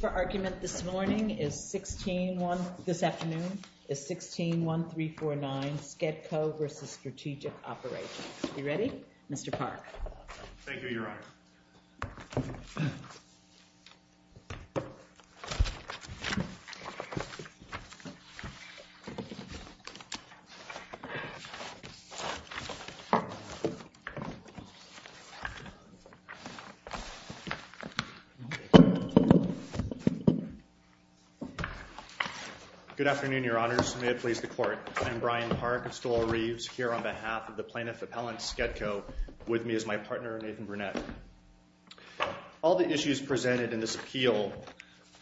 For argument this morning is 16-1, this afternoon is 16-1349, Skedco v. Strategic Operations. You ready? Mr. Park. Thank you, Your Honor. Good afternoon, Your Honors. May it please the Court. I'm Brian Park of Stolar Reeves here on behalf of the Plaintiff Appellant Skedco, with me is my partner Nathan Burnett. All the issues presented in this appeal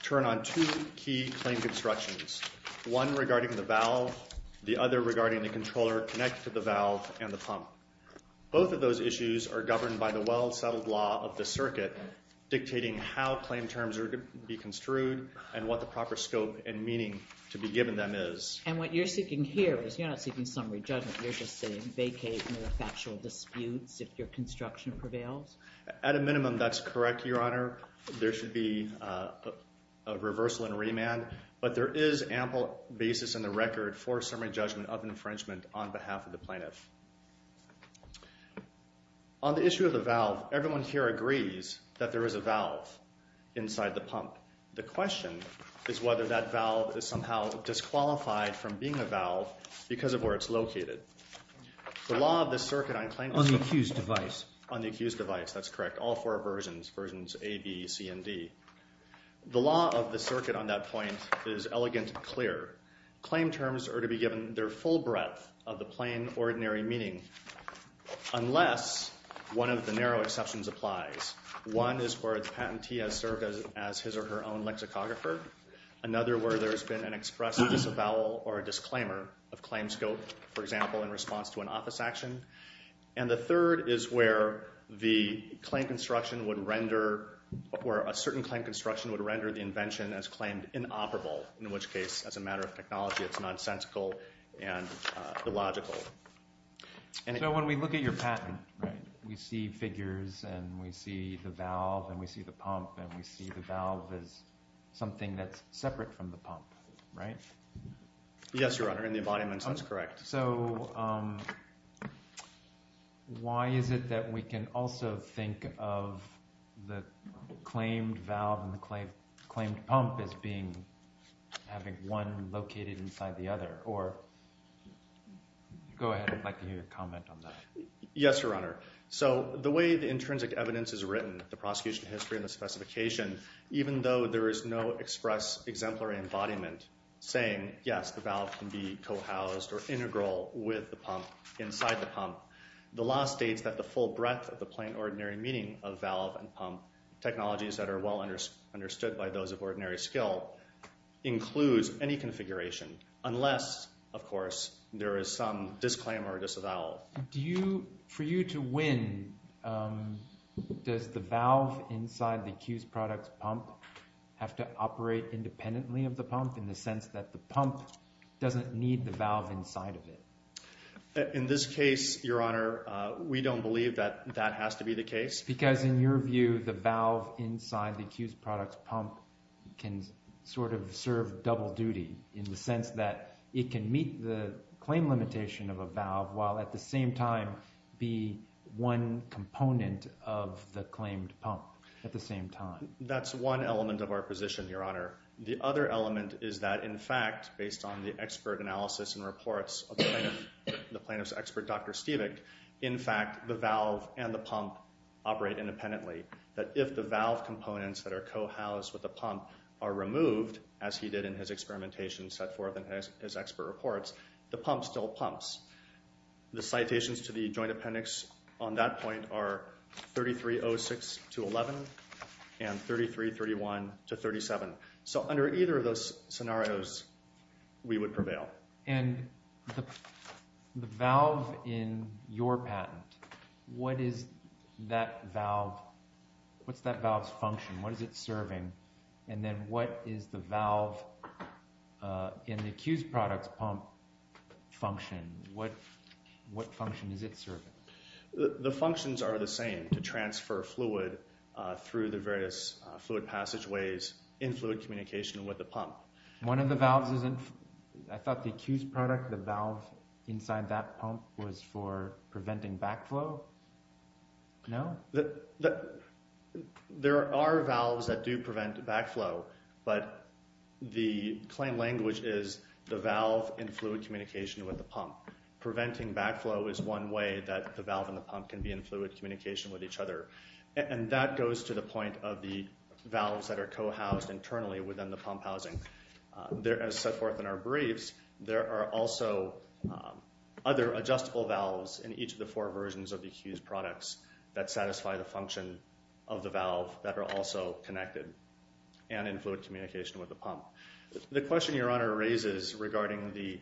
turn on two key claim constructions, one regarding the valve, the other regarding the controller connected to the valve and the pump. Both of those issues are governed by the well-settled law of the circuit dictating how claim terms are to be construed and what the proper scope and meaning to be given them is. And what you're seeking here is you're not seeking summary judgment, you're just saying vacate the factual disputes if your construction prevails? At a minimum, that's correct, Your Honor. There should be a reversal and remand, but there is ample basis in the record for summary judgment of infringement on behalf of the plaintiff. On the issue of the valve, everyone here agrees that there is a valve inside the pump. The question is whether that valve is somehow disqualified from being a valve because of where it's located. The law of the circuit on claim terms... On the accused device. On the accused device, that's correct. All four versions, versions A, B, C, and D. The law of the circuit on that point is elegant and clear. Claim terms are to be given their full breadth of the plain ordinary meaning unless one of the narrow exceptions applies. One is where the patentee has served as his or her own lexicographer. Another where there's been an expressive disavowal or disclaimer of claim scope, for example, in response to an office action. And the third is where the claim construction would render, or a certain claim construction would render the invention as claimed inoperable, in which case, as a matter of technology, it's nonsensical and So when we look at your patent, right, we see figures and we see the valve and we see the pump and we see the valve as something that's separate from the pump, right? Yes, Your Honor, in the embodiment sense, correct. So why is it that we can also think of the claimed valve and the claimed pump as being, having one located inside the other? Or, go ahead, I'd like to hear your comment on that. Yes, Your Honor. So the way the intrinsic evidence is written, the prosecution history and the specification, even though there is no express exemplary embodiment saying, yes, the valve can be co-housed or integral with the pump inside the pump, the law states that the full breadth of the plain ordinary meaning of valve and pump, technologies that are well understood by those of ordinary skill, includes any configuration, unless, of course, there is some disclaimer or disavowal. For you to win, does the valve inside the accused product's pump have to operate independently of the pump in the sense that the pump doesn't need the valve inside of it? In this case, Your Honor, we don't believe that that has to be the case. Because in your view, the valve inside the accused product's pump can sort of serve double duty in the sense that it can meet the claim limitation of a valve while at the same time be one component of the claimed pump at the same time. That's one element of our position, Your Honor. The other element is that, in fact, based on the expert analysis and reports of the plaintiff's expert, Dr. Stevick, in fact, the valve and the pump operate independently, that if the valve components that are co-housed with the pump are removed, as he did in his experimentation set forth in his expert reports, the pump still pumps. The citations to the joint appendix on that point are 3306 to 11 and 3331 to 37. So under either of those scenarios, we would prevail. And the valve in your patent, what is that valve's function? What is it serving? And then what is the valve in the accused product's pump function? What function is it serving? The functions are the same, to transfer fluid through the various fluid passageways, in fluid communication with the pump. One of the valves isn't, I thought the accused product, the valve inside that pump, was for preventing backflow? No? There are valves that do prevent backflow, but the claim language is the valve in fluid communication with the pump. Preventing backflow is one way that the valve and the pump can be in fluid communication with each other. And that goes to the point of the valves that are co-housed internally within the pump housing. As set forth in our briefs, there are also other adjustable valves in each of the four versions of the accused products that satisfy the function of the valve that are also connected and in fluid communication with the pump. The question your honor raises regarding the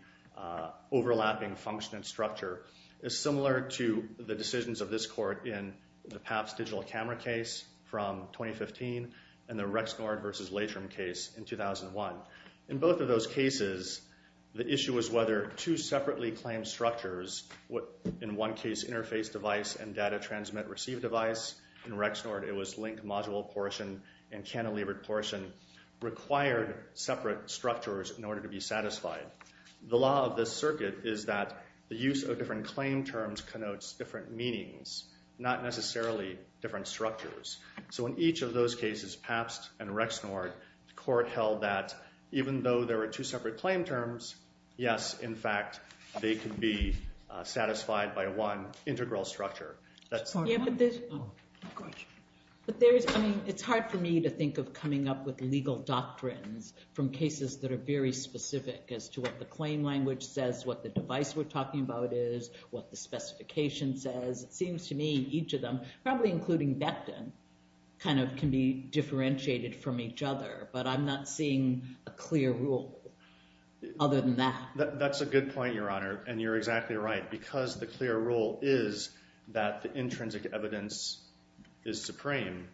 overlapping function and structure is similar to the decisions of this court in the PAPS digital camera case from 2015 and the Rexnord versus Latrim case in 2001. In both of those cases, the issue was whether two separately claimed structures, in one case interface device and data transmit receive device, in Rexnord it was link module portion and cantilevered portion, required separate structures in order to be satisfied. The law of this circuit is that the use of different claim terms connotes different meanings, not necessarily different structures. So in each of those cases, PAPS and Rexnord, the court held that even though there were two separate claim terms, yes, in fact, they could be satisfied by one integral structure. But there is, I mean, it's hard for me to think of coming up with legal doctrines from cases that are very specific as to what the claim language says, what the device we're talking about is, what the specification says. It seems to me each of them, probably including Becton, kind of can be differentiated from each other. But I'm not seeing a clear rule other than that. That's a good point, Your Honor, and you're exactly right. Because the clear rule is that the intrinsic evidence is supreme,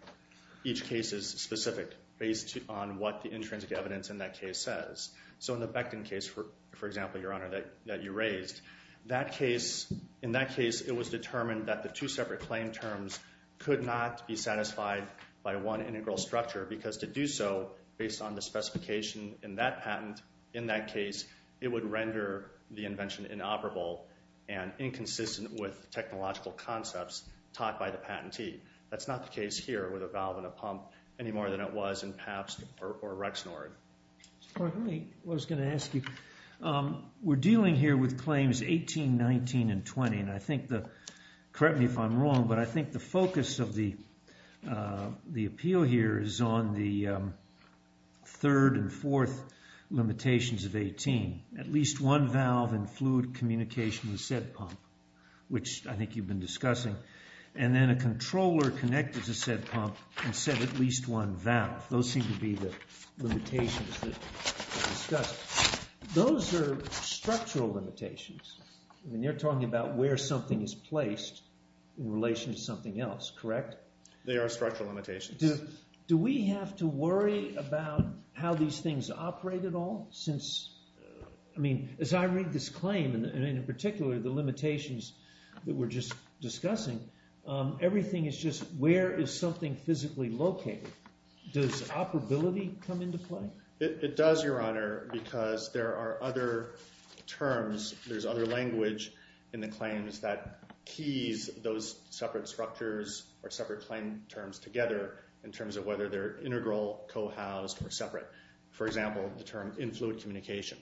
each case is specific based on what the intrinsic evidence in that case says. So in the Becton case, for example, Your Honor, that you raised, in that case it was determined that the two separate claim terms could not be satisfied by one integral structure because to do so based on the specification in that patent, in that case, it would render the invention inoperable and inconsistent with technological concepts taught by the patentee. That's not the case here with a valve and a pump any more than it was in PAPS or Rexnord. Well, I was going to ask you, we're dealing here with claims 18, 19, and 20, and I think the, correct me if I'm wrong, but I think the focus of the appeal here is on the third and fourth limitations of 18, at least one valve and fluid communication with said pump, which I think you've been discussing. And then a controller connected to said pump and said at least one valve. Those seem to be the limitations that are discussed. Those are structural limitations. I mean, you're talking about where something is placed in relation to something else, correct? They are structural limitations. Do we have to worry about how these things operate at all since, I mean, as I read this claim and in particular the limitations that we're just discussing, everything is just where is something physically located? Does operability come into play? It does, Your Honor, because there are other terms, there's other language in the claims that keys those separate structures or separate claim terms together in terms of whether they're integral, co-housed, or separate. For example, the term in-fluid communication.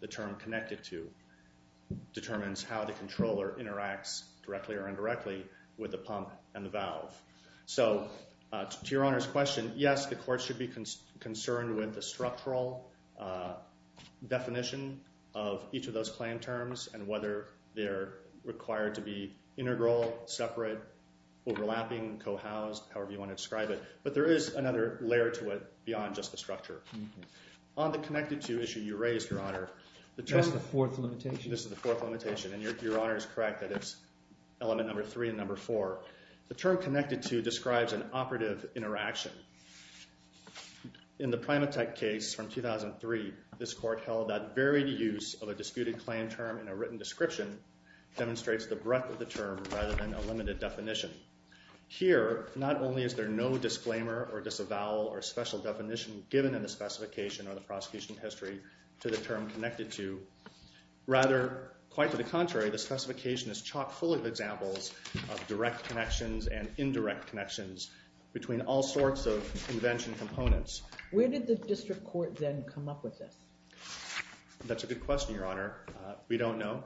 The term connected to determines how the controller interacts directly or indirectly with the pump and the valve. So to Your Honor's question, yes, the court should be concerned with the structural definition of each of those claim terms and whether they're required to be integral, separate, overlapping, co-housed, however you want to describe it. But there is another layer to it beyond just the structure. On the connected to issue you raised, Your Honor, the term- That's the fourth limitation. This is the fourth limitation. And Your Honor is correct that it's element number three and number four. The term connected to describes an operative interaction. In the Primatech case from 2003, this court held that varied use of a disputed claim term in a written description demonstrates the breadth of the term rather than a limited definition. Here, not only is there no disclaimer or disavowal or special definition given in the specification or the prosecution history to the term connected to, rather, quite to the contrary, the specification is chock-full of examples of direct connections and indirect connections between all sorts of invention components. Where did the district court then come up with this? That's a good question, Your Honor. We don't know.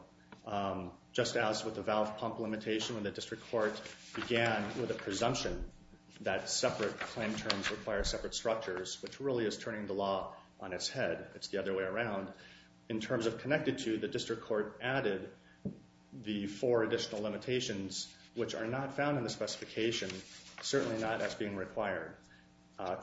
Just as with the valve-pump limitation when the district court began with a presumption that separate claim terms require separate structures, which really is turning the law on its head. It's the other way around. In terms of connected to, the district court added the four additional limitations, which are not found in the specification, certainly not as being required.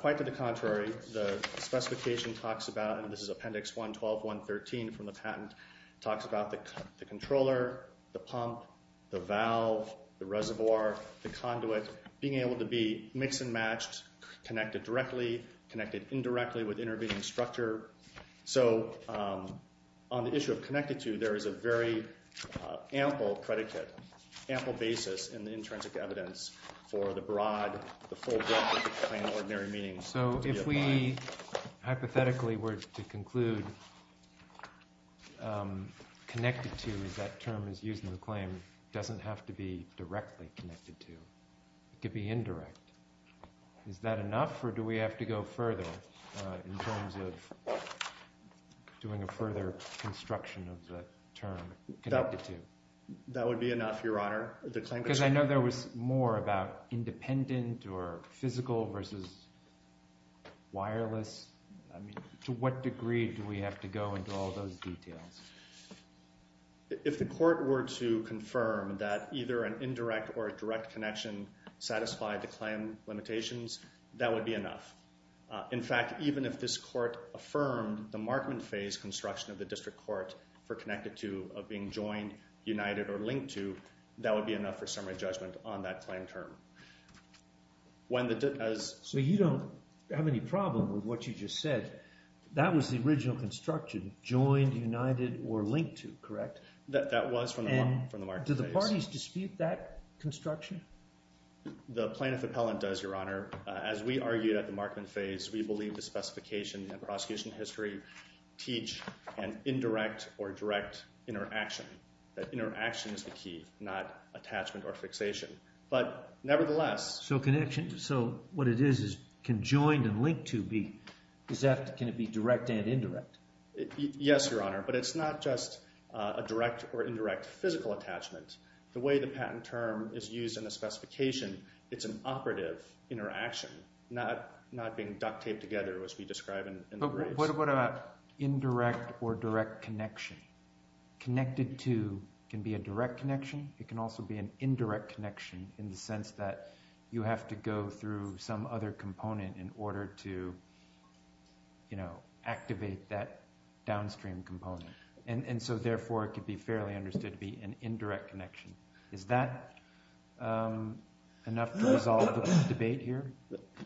Quite to the contrary, the specification talks about, and this is Appendix 112.113 from the patent, talks about the controller, the pump, the valve, the reservoir, the conduit, being able to be mixed and matched, connected directly, connected indirectly with intervening structure. So on the issue of connected to, there is a very ample predicate, ample basis in the intrinsic evidence for the broad, the full breadth of the claim in ordinary meaning. So if we hypothetically were to conclude connected to, as that term is used in the claim, doesn't have to be directly connected to. It could be indirect. Is that enough, or do we have to go further in terms of doing a further construction of the term connected to? That would be enough, Your Honor. Because I know there was more about independent or physical versus wireless. To what degree do we have to go into all those details? If the court were to confirm that either an indirect or a direct connection satisfied the claim limitations, that would be enough. In fact, even if this court affirmed the markman phase construction of the district court for connected to of being joined, united, or linked to, that would be enough for summary judgment on that claim term. When the... So you don't have any problem with what you just said. That was the original construction, joined, united, or linked to, correct? That was from the markman phase. And do the parties dispute that construction? The plaintiff appellant does, Your Honor. As we argued at the markman phase, we believe the specification in the prosecution history teach an indirect or direct interaction. That interaction is the key, not attachment or fixation. But nevertheless... So connection... So what it is, is conjoined and linked to, can it be direct and indirect? Yes, Your Honor, but it's not just a direct or indirect physical attachment. The way the patent term is used in the specification, it's an operative interaction, not being duct taped together as we describe in the grades. What about indirect or direct connection? Connected to can be a direct connection, it can also be an indirect connection in the case that you have to go through some other component in order to activate that downstream component. And so therefore, it could be fairly understood to be an indirect connection. Is that enough to resolve the debate here?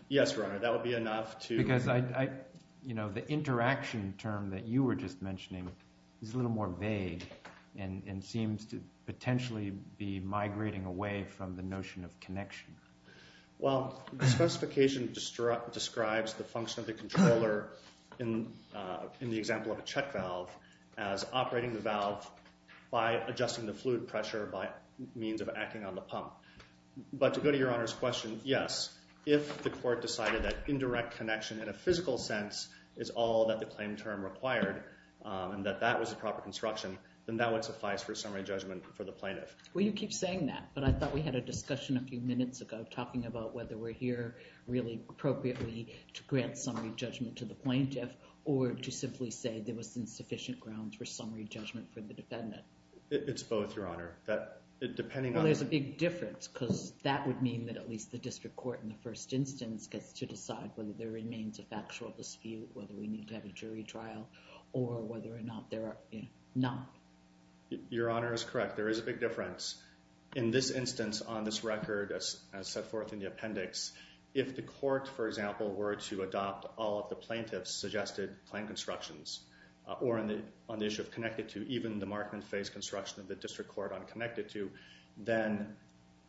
Yes, Your Honor, that would be enough to... Because the interaction term that you were just mentioning is a little more vague and seems to potentially be migrating away from the notion of connection. Well, the specification describes the function of the controller in the example of a check valve as operating the valve by adjusting the fluid pressure by means of acting on the pump. But to go to Your Honor's question, yes, if the court decided that indirect connection in a physical sense is all that the claim term required and that that was the proper construction, then that would suffice for a summary judgment for the plaintiff. Well, you keep saying that, but I thought we had a discussion a few minutes ago talking about whether we're here really appropriately to grant summary judgment to the plaintiff or to simply say there was insufficient grounds for summary judgment for the defendant. It's both, Your Honor. That depending on... Well, there's a big difference because that would mean that at least the district court in the first instance gets to decide whether there remains a factual dispute, whether we No. Your Honor is correct. There is a big difference. In this instance, on this record, as set forth in the appendix, if the court, for example, were to adopt all of the plaintiff's suggested claim constructions or on the issue of connected to even the markman phase construction of the district court on connected to, then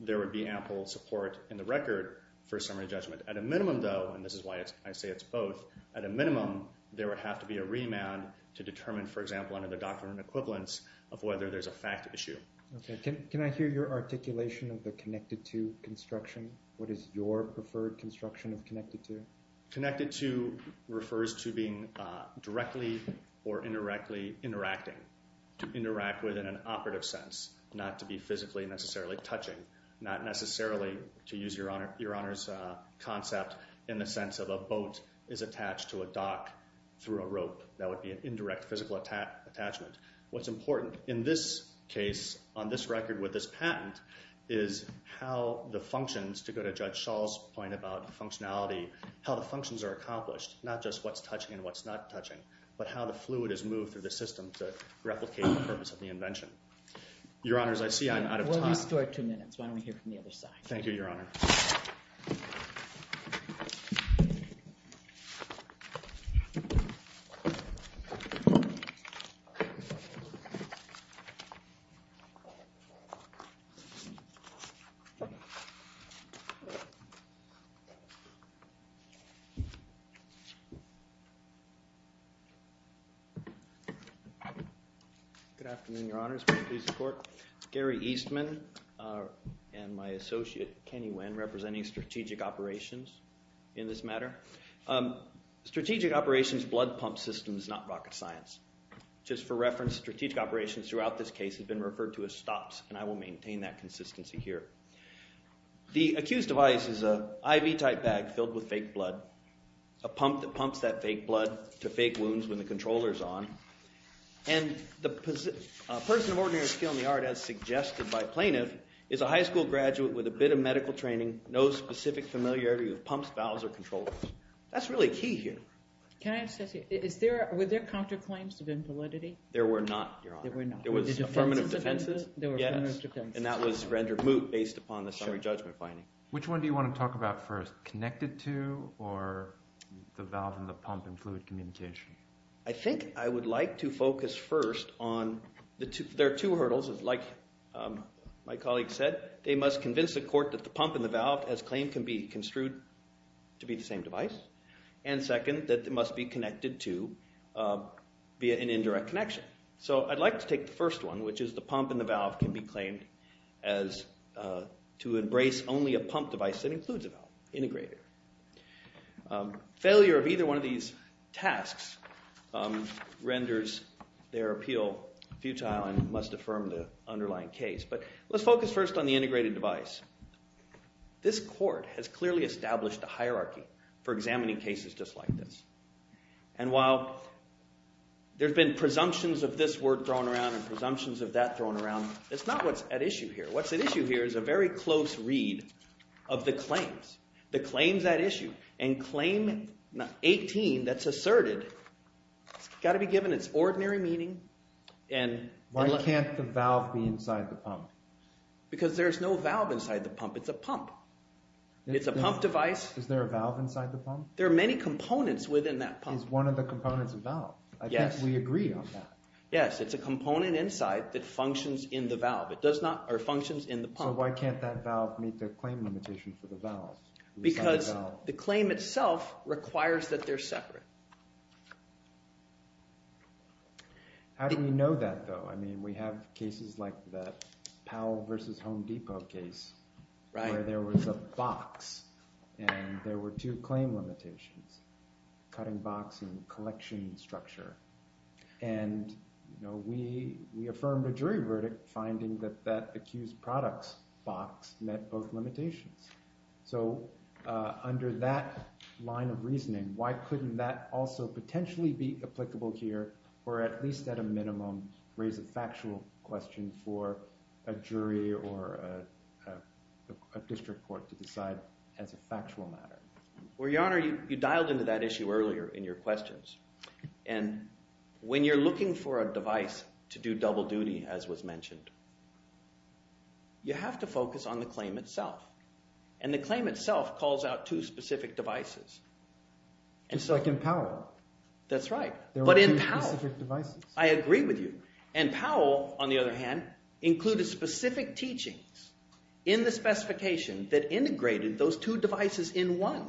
there would be ample support in the record for summary judgment. At a minimum, though, and this is why I say it's both, at a minimum, there would have to be a remand to determine, for example, under the doctrine of equivalence of whether there's a fact issue. Okay. Can I hear your articulation of the connected to construction? What is your preferred construction of connected to? Connected to refers to being directly or indirectly interacting, to interact with in an operative sense, not to be physically necessarily touching, not necessarily, to use Your Honor's concept, in the sense of a boat is attached to a dock through a rope. That would be an indirect physical attachment. What's important in this case, on this record with this patent, is how the functions, to go to Judge Schall's point about functionality, how the functions are accomplished, not just what's touching and what's not touching, but how the fluid is moved through the system to replicate the purpose of the invention. Your Honor, as I see, I'm out of time. We'll restore two minutes. Why don't we hear from the other side? Thank you, Your Honor. Thank you. Good afternoon, Your Honor. It's my pleasure to support Garry Eastman and my associate, Kenny Wenner. representing Strategic Operations in this matter. Strategic Operations' blood pump system is not rocket science. Just for reference, Strategic Operations throughout this case has been referred to as STOPS, and I will maintain that consistency here. The accused's device is an IV-type bag filled with fake blood, a pump that pumps that fake blood to fake wounds when the controller is on. And the person of ordinary skill in the art, as suggested by plaintiff, is a high school graduate with a bit of medical training, no specific familiarity with pumps, valves, or controllers. That's really key here. Can I just ask you, were there counterclaims of invalidity? There were not, Your Honor. There were not. There were affirmative defenses? There were affirmative defenses. Yes, and that was rendered moot based upon the summary judgment finding. Which one do you want to talk about first? Connected to or the valve and the pump and fluid communication? I think I would like to focus first on, there are two hurdles. Like my colleague said, they must convince the court that the pump and the valve, as claimed, can be construed to be the same device. And second, that it must be connected to via an indirect connection. So I'd like to take the first one, which is the pump and the valve can be claimed as to embrace only a pump device that includes a valve, integrated. Failure of either one of these tasks renders their appeal futile and must affirm the underlying case. But let's focus first on the integrated device. This court has clearly established a hierarchy for examining cases just like this. And while there have been presumptions of this word thrown around and presumptions of that thrown around, it's not what's at issue here. What's at issue here is a very close read of the claims. The claims at issue. And claim 18 that's asserted has got to be given its ordinary meaning Why can't the valve be inside the pump? Because there's no valve inside the pump. It's a pump. It's a pump device. Is there a valve inside the pump? There are many components within that pump. Is one of the components a valve? Yes. I think we agree on that. Yes, it's a component inside that functions in the valve. It does not, or functions in the pump. So why can't that valve meet the claim limitation for the valve? Because the claim itself requires that they're separate. How do we know that, though? I mean, we have cases like the Powell v. Home Depot case where there was a box and there were two claim limitations, cutting box and collection structure. And we affirmed a jury verdict finding that that accused product's box met both limitations. So under that line of reasoning, why couldn't that also potentially be applicable here, or at least at a minimum, raise a factual question for a jury or a district court to decide as a factual matter? Well, Your Honor, you dialed into that issue earlier in your questions. And when you're looking for a device to do double duty, as was mentioned, you have to focus on the claim itself. And the claim itself calls out two specific devices. It's like in Powell. That's right. There were two specific devices. I agree with you. And Powell, on the other hand, included specific teachings in the specification that integrated those two devices in one.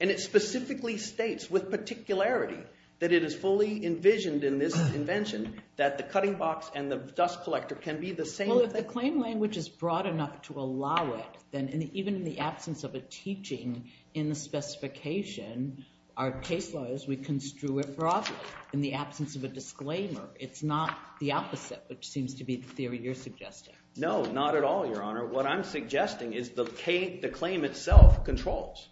And it specifically states with particularity that it is fully envisioned in this invention that the cutting box and the dust collector can be the same thing. Well, if the claim language is broad enough to allow it, then even in the absence of a teaching in the specification, our case law is we construe it broadly in the absence of a disclaimer. It's not the opposite, which seems to be the theory you're suggesting. No, not at all, Your Honor. What I'm suggesting is the claim itself controls,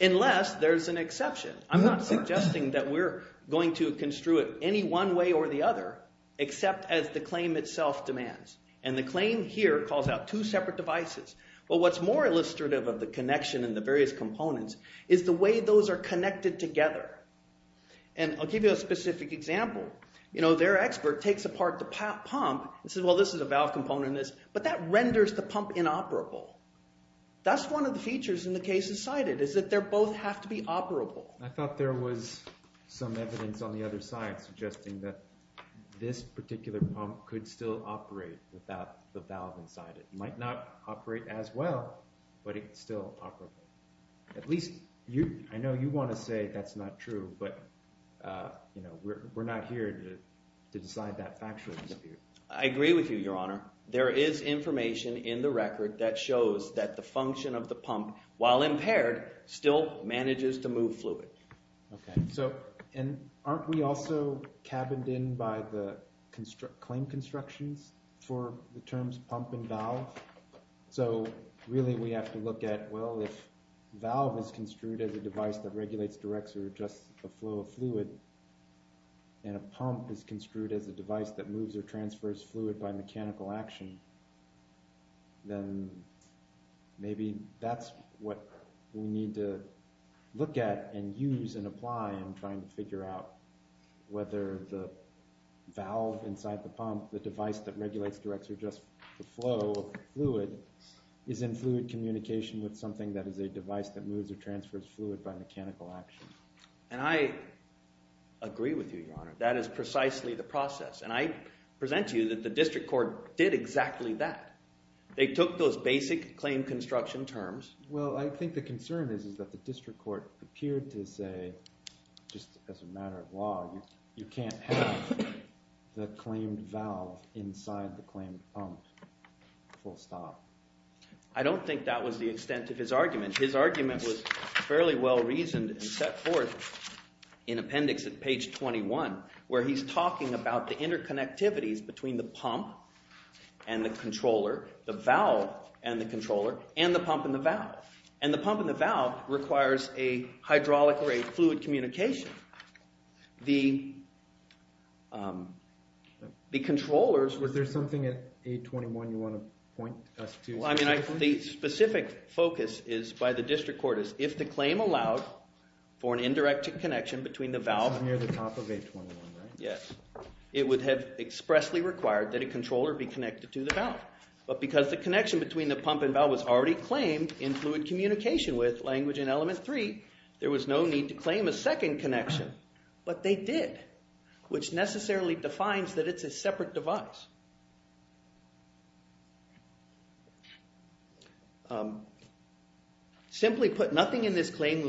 unless there's an exception. I'm not suggesting that we're going to construe it any one way or the other, except as the claim itself demands. And the claim here calls out two separate devices. But what's more illustrative of the connection and the various components is the way those are connected together. And I'll give you a specific example. You know, their expert takes apart the pump and says, well, this is a valve component, but that renders the pump inoperable. That's one of the features in the cases cited, is that they both have to be operable. I thought there was some evidence on the other side suggesting that this particular pump could still operate without the valve inside it. It might not operate as well, but it's still operable. At least, I know you want to say that's not true, but we're not here to decide that factually. I agree with you, Your Honor. There is information in the record that shows that the function of the pump, while impaired, still manages to move fluid. And aren't we also cabined in by the claim constructions for the terms pump and valve? So really we have to look at, well, if valve is construed as a device that regulates, directs, or adjusts the flow of fluid, and a pump is construed as a device that moves or transfers fluid by mechanical action, then maybe that's what we need to look at and use and apply in trying to figure out whether the valve inside the pump, the device that regulates, directs, or adjusts the flow of fluid, is in fluid communication with something that is a device that moves or transfers fluid by mechanical action. And I agree with you, Your Honor. That is precisely the process. And I present to you that the district court did exactly that. They took those basic claim construction terms. Well, I think the concern is that the district court appeared to say, just as a matter of law, you can't have the claimed valve inside the claimed pump, full stop. I don't think that was the extent of his argument. His argument was fairly well reasoned and set forth in appendix at page 21, where he's talking about the interconnectivities between the pump and the controller, the valve and the controller, and the pump and the valve. And the pump and the valve requires a hydraulic or a fluid communication. The controllers were... Was there something at 821 you want to point us to specifically? Well, I mean, the specific focus by the district court is if the claim allowed for an indirect connection between the valve... Near the top of 821, right? Yes. It would have expressly required that a controller be connected to the valve. But because the connection between the pump and valve was already claimed in fluid communication with language in element 3, there was no need to claim a second connection. But they did, which necessarily defines that it's a separate device. Simply put, nothing in this claim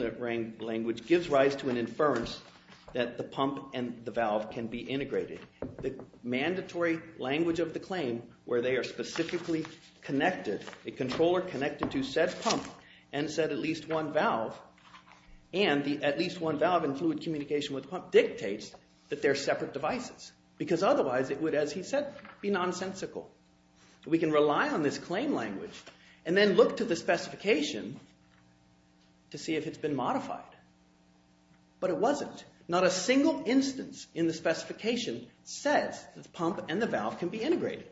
language gives rise to an inference that the pump and the valve can be integrated. The mandatory language of the claim, where they are specifically connected, a controller connected to said pump and said at least one valve, and the at least one valve in fluid communication with pump, dictates that they're separate devices. Because otherwise it would, as he said, be nonsensical. We can rely on this claim language and then look to the specification to see if it's been modified. But it wasn't. Not a single instance in the specification says the pump and the valve can be integrated.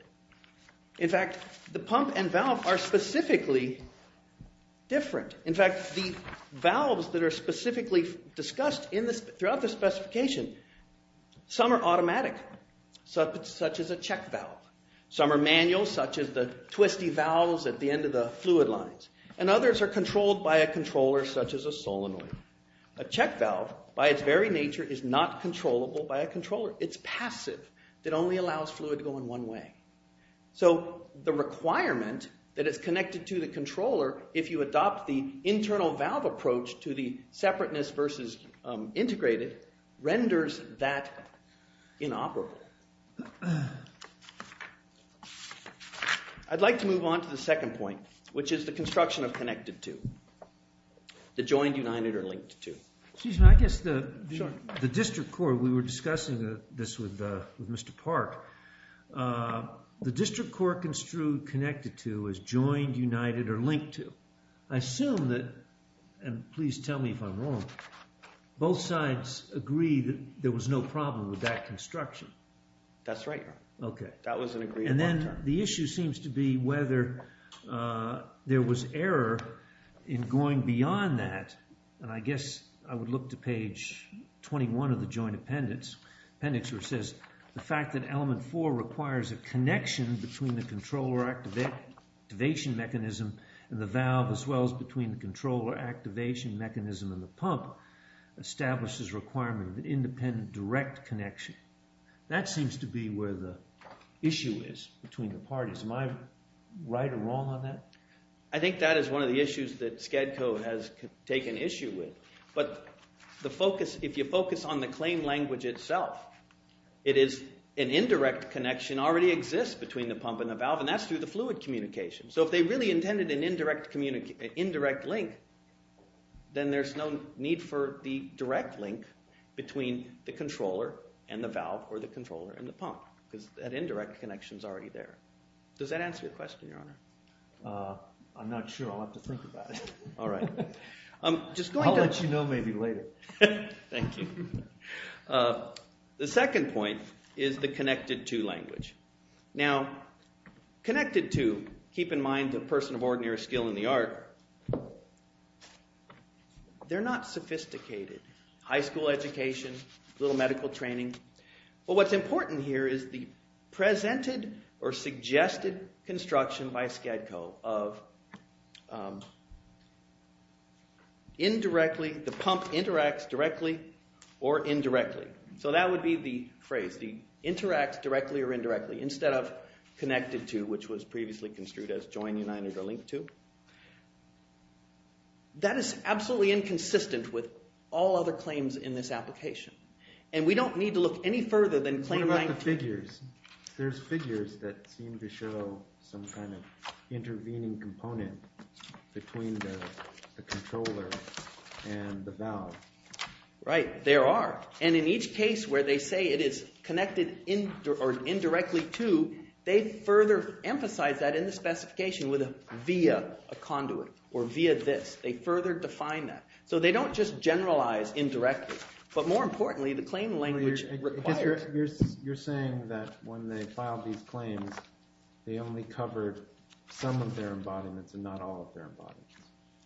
In fact, the pump and valve are specifically different. In fact, the valves that are specifically discussed throughout the specification, some are automatic, such as a check valve. Some are manual, such as the twisty valves at the end of the fluid lines. And others are controlled by a controller, such as a solenoid. A check valve, by its very nature, is not controllable by a controller. It's passive. It only allows fluid to go in one way. So the requirement that it's connected to the controller if you adopt the internal valve approach to the separateness versus integrated renders that inoperable. I'd like to move on to the second point, which is the construction of connected to. The joined, united, or linked to. Excuse me. I guess the district court, we were discussing this with Mr. Park. The district court construed connected to as joined, united, or linked to. I assume that, and please tell me if I'm wrong, both sides agree that there was no problem with that construction. That's right, Your Honor. OK. That was an agreement. And then the issue seems to be whether there was error in going beyond that. And I guess I would look to page 21 of the joint appendix where it says, the fact that element four requires a connection between the controller activation mechanism and the valve as well as between the controller activation mechanism and the pump establishes requirement of independent direct connection. That seems to be where the issue is between the parties. Am I right or wrong on that? I think that is one of the issues that SCADCO has taken issue with. But if you focus on the claim language itself, it is an indirect connection already exists between the pump and the valve, and that's through the fluid communication. So if they really intended an indirect link, then there's no need for the direct link between the controller and the valve or the controller and the pump, because that indirect connection is already there. Does that answer your question, Your Honor? I'm not sure. I'll have to think about it. All right. I'll let you know maybe later. Thank you. The second point is the connected to language. Now, connected to, keep in mind the person of ordinary skill in the art, they're not sophisticated. High school education, a little medical training. Well, what's important here is the presented or suggested construction by SCADCO of the pump interacts directly or indirectly. So that would be the phrase. It interacts directly or indirectly instead of connected to, which was previously construed as join united or link to. That is absolutely inconsistent with all other claims in this application. And we don't need to look any further than claim 19. What about the figures? There's figures that seem to show some kind of intervening component between the controller and the valve. Right. There are. And in each case where they say it is connected indirectly to, they further emphasize that in the specification with a via, a conduit, or via this. They further define that. So they don't just generalize indirectly. But more importantly, the claim language requires it. You're saying that when they filed these claims, they only covered some of their embodiments and not all of their embodiments.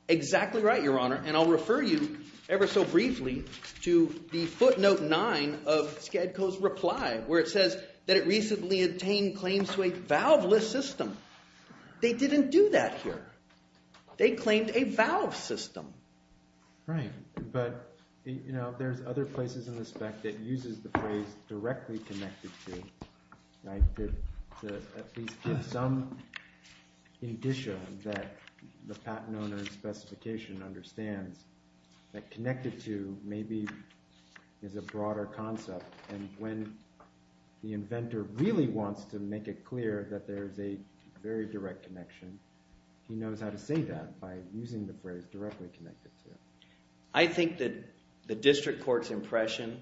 Exactly right, Your Honor. And I'll refer you, ever so briefly, to the footnote 9 of SCADCO's reply where it says that it recently obtained claims to a valveless system. They didn't do that here. They claimed a valve system. Right. But there's other places in the spec that uses the phrase directly connected to to at least give some indicia that the patent owner's specification understands that connected to maybe is a broader concept. And when the inventor really wants to make it clear that there is a very direct connection, he knows how to say that by using the phrase directly connected to. I think that the district court's impression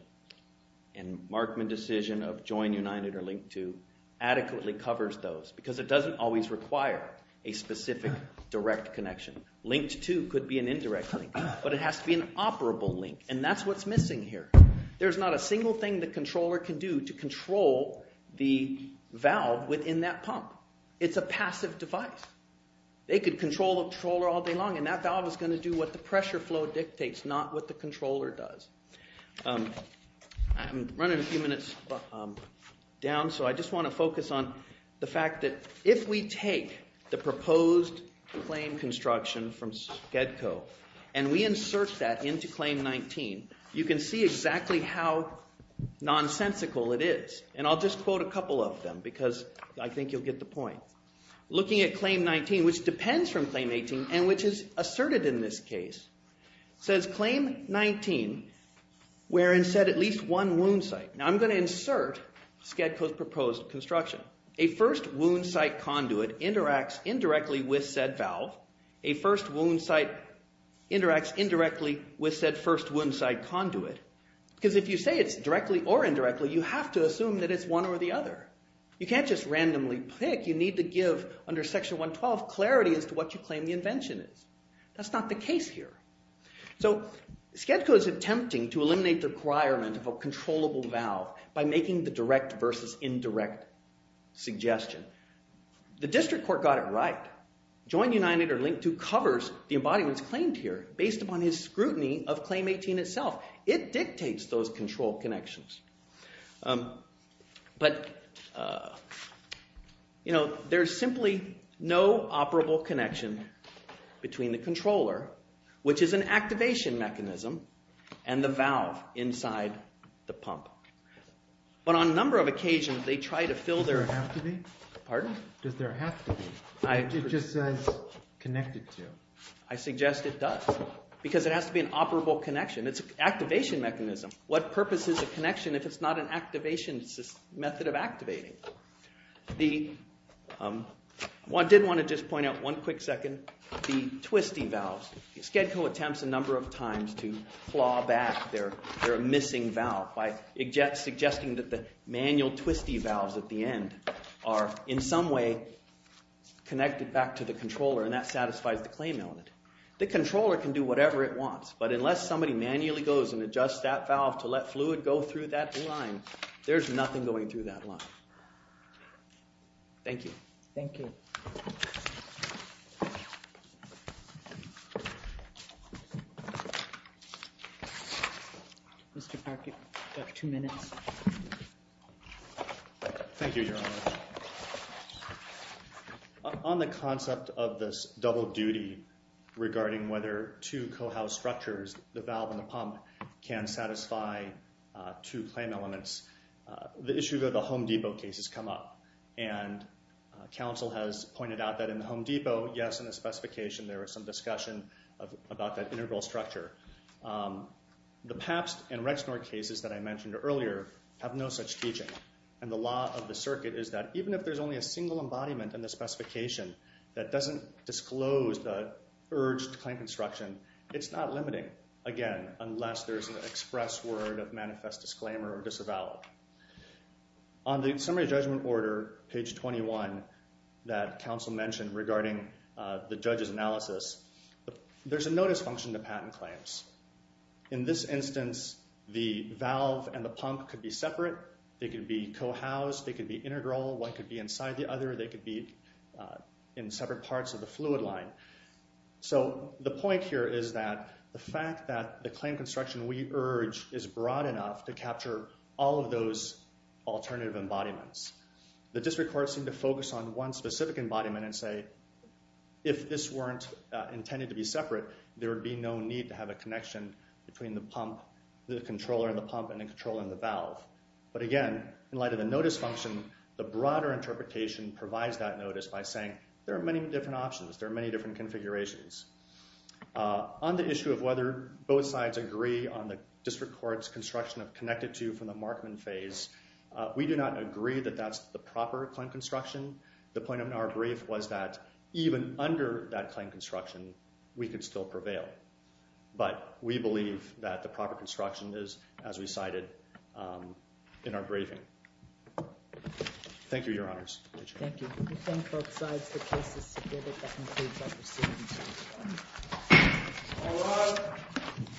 and Markman decision of join United or link to adequately covers those. Because it doesn't always require a specific direct connection. Linked to could be an indirect link. But it has to be an operable link. And that's what's missing here. There's not a single thing the controller can do to control the valve within that pump. It's a passive device. They could control the controller all day long and that valve is going to do what the pressure flow dictates, not what the controller does. I'm running a few minutes down. So I just want to focus on the fact that if we take the proposed claim construction from Skedco and we insert that into claim 19, you can see exactly how nonsensical it is. And I'll just quote a couple of them because I think you'll get the point. Looking at claim 19, which depends from claim 18 and which is asserted in this case, says claim 19 wherein said at least one wound site. Now I'm going to insert Skedco's proposed construction. A first wound site conduit interacts indirectly with said valve. A first wound site interacts indirectly with said first wound site conduit. Because if you say it's directly or indirectly, you have to assume that it's one or the other. You can't just randomly pick. You need to give under section 112 clarity as to what you claim the invention is. That's not the case here. So Skedco is attempting to eliminate the requirement of a controllable valve by making the direct versus indirect suggestion. The district court got it right. Join united or link to covers the embodiments claimed here based upon his scrutiny of claim 18 itself. It dictates those control connections. But there's simply no operable connection between the controller, which is an activation mechanism, and the valve inside the pump. But on a number of occasions, they try to fill their... Does there have to be? Pardon? Does there have to be? It just says connected to. I suggest it does. Because it has to be an operable connection. It's an activation mechanism. What purpose is a connection if it's not an activation? It's a method of activating. I did want to just point out one quick second, the twisty valves. Skedco attempts a number of times to claw back their missing valve by suggesting that the manual twisty valves at the end are in some way connected back to the controller, and that satisfies the claim element. The controller can do whatever it wants, but unless somebody manually goes and adjusts that valve to let fluid go through that line, there's nothing going through that line. Thank you. Thank you. Mr. Parker, you have two minutes. Thank you, Your Honor. On the concept of this double duty regarding whether two co-house structures, the valve and the pump, can satisfy two claim elements, the issue of the Home Depot case has come up. And counsel has pointed out that in the Home Depot, yes, in the specification, there was some discussion about that integral structure. The PAPS and Rexnord cases that I mentioned earlier have no such teaching. And the law of the circuit is that even if there's only a single embodiment in the specification that doesn't disclose the urged claim construction, it's not limiting, again, unless there's an express word of manifest disclaimer or disavowal. On the summary judgment order, page 21, that counsel mentioned regarding the judge's analysis, there's a notice function to patent claims. In this instance, the valve and the pump could be separate. They could be co-housed. They could be integral. One could be inside the other. They could be in separate parts of the fluid line. So the point here is that the fact that the claim construction we urge is broad enough to capture all of those alternative embodiments. The district courts seem to focus on one specific embodiment and say, if this weren't intended to be separate, there would be no need to have a connection between the pump, the controller and the pump, and the controller and the valve. But again, in light of the notice function, the broader interpretation provides that notice by saying, there are many different options. There are many different configurations. On the issue of whether both sides agree on the district court's construction of connected to from the Markman phase, we do not agree that that's the proper claim construction. The point of our brief was that even under that claim construction, we could still prevail. But we believe that the proper construction is, as we cited in our briefing. Thank you, Your Honors. Thank you. We thank both sides. The case is submitted. That concludes our proceedings. All rise.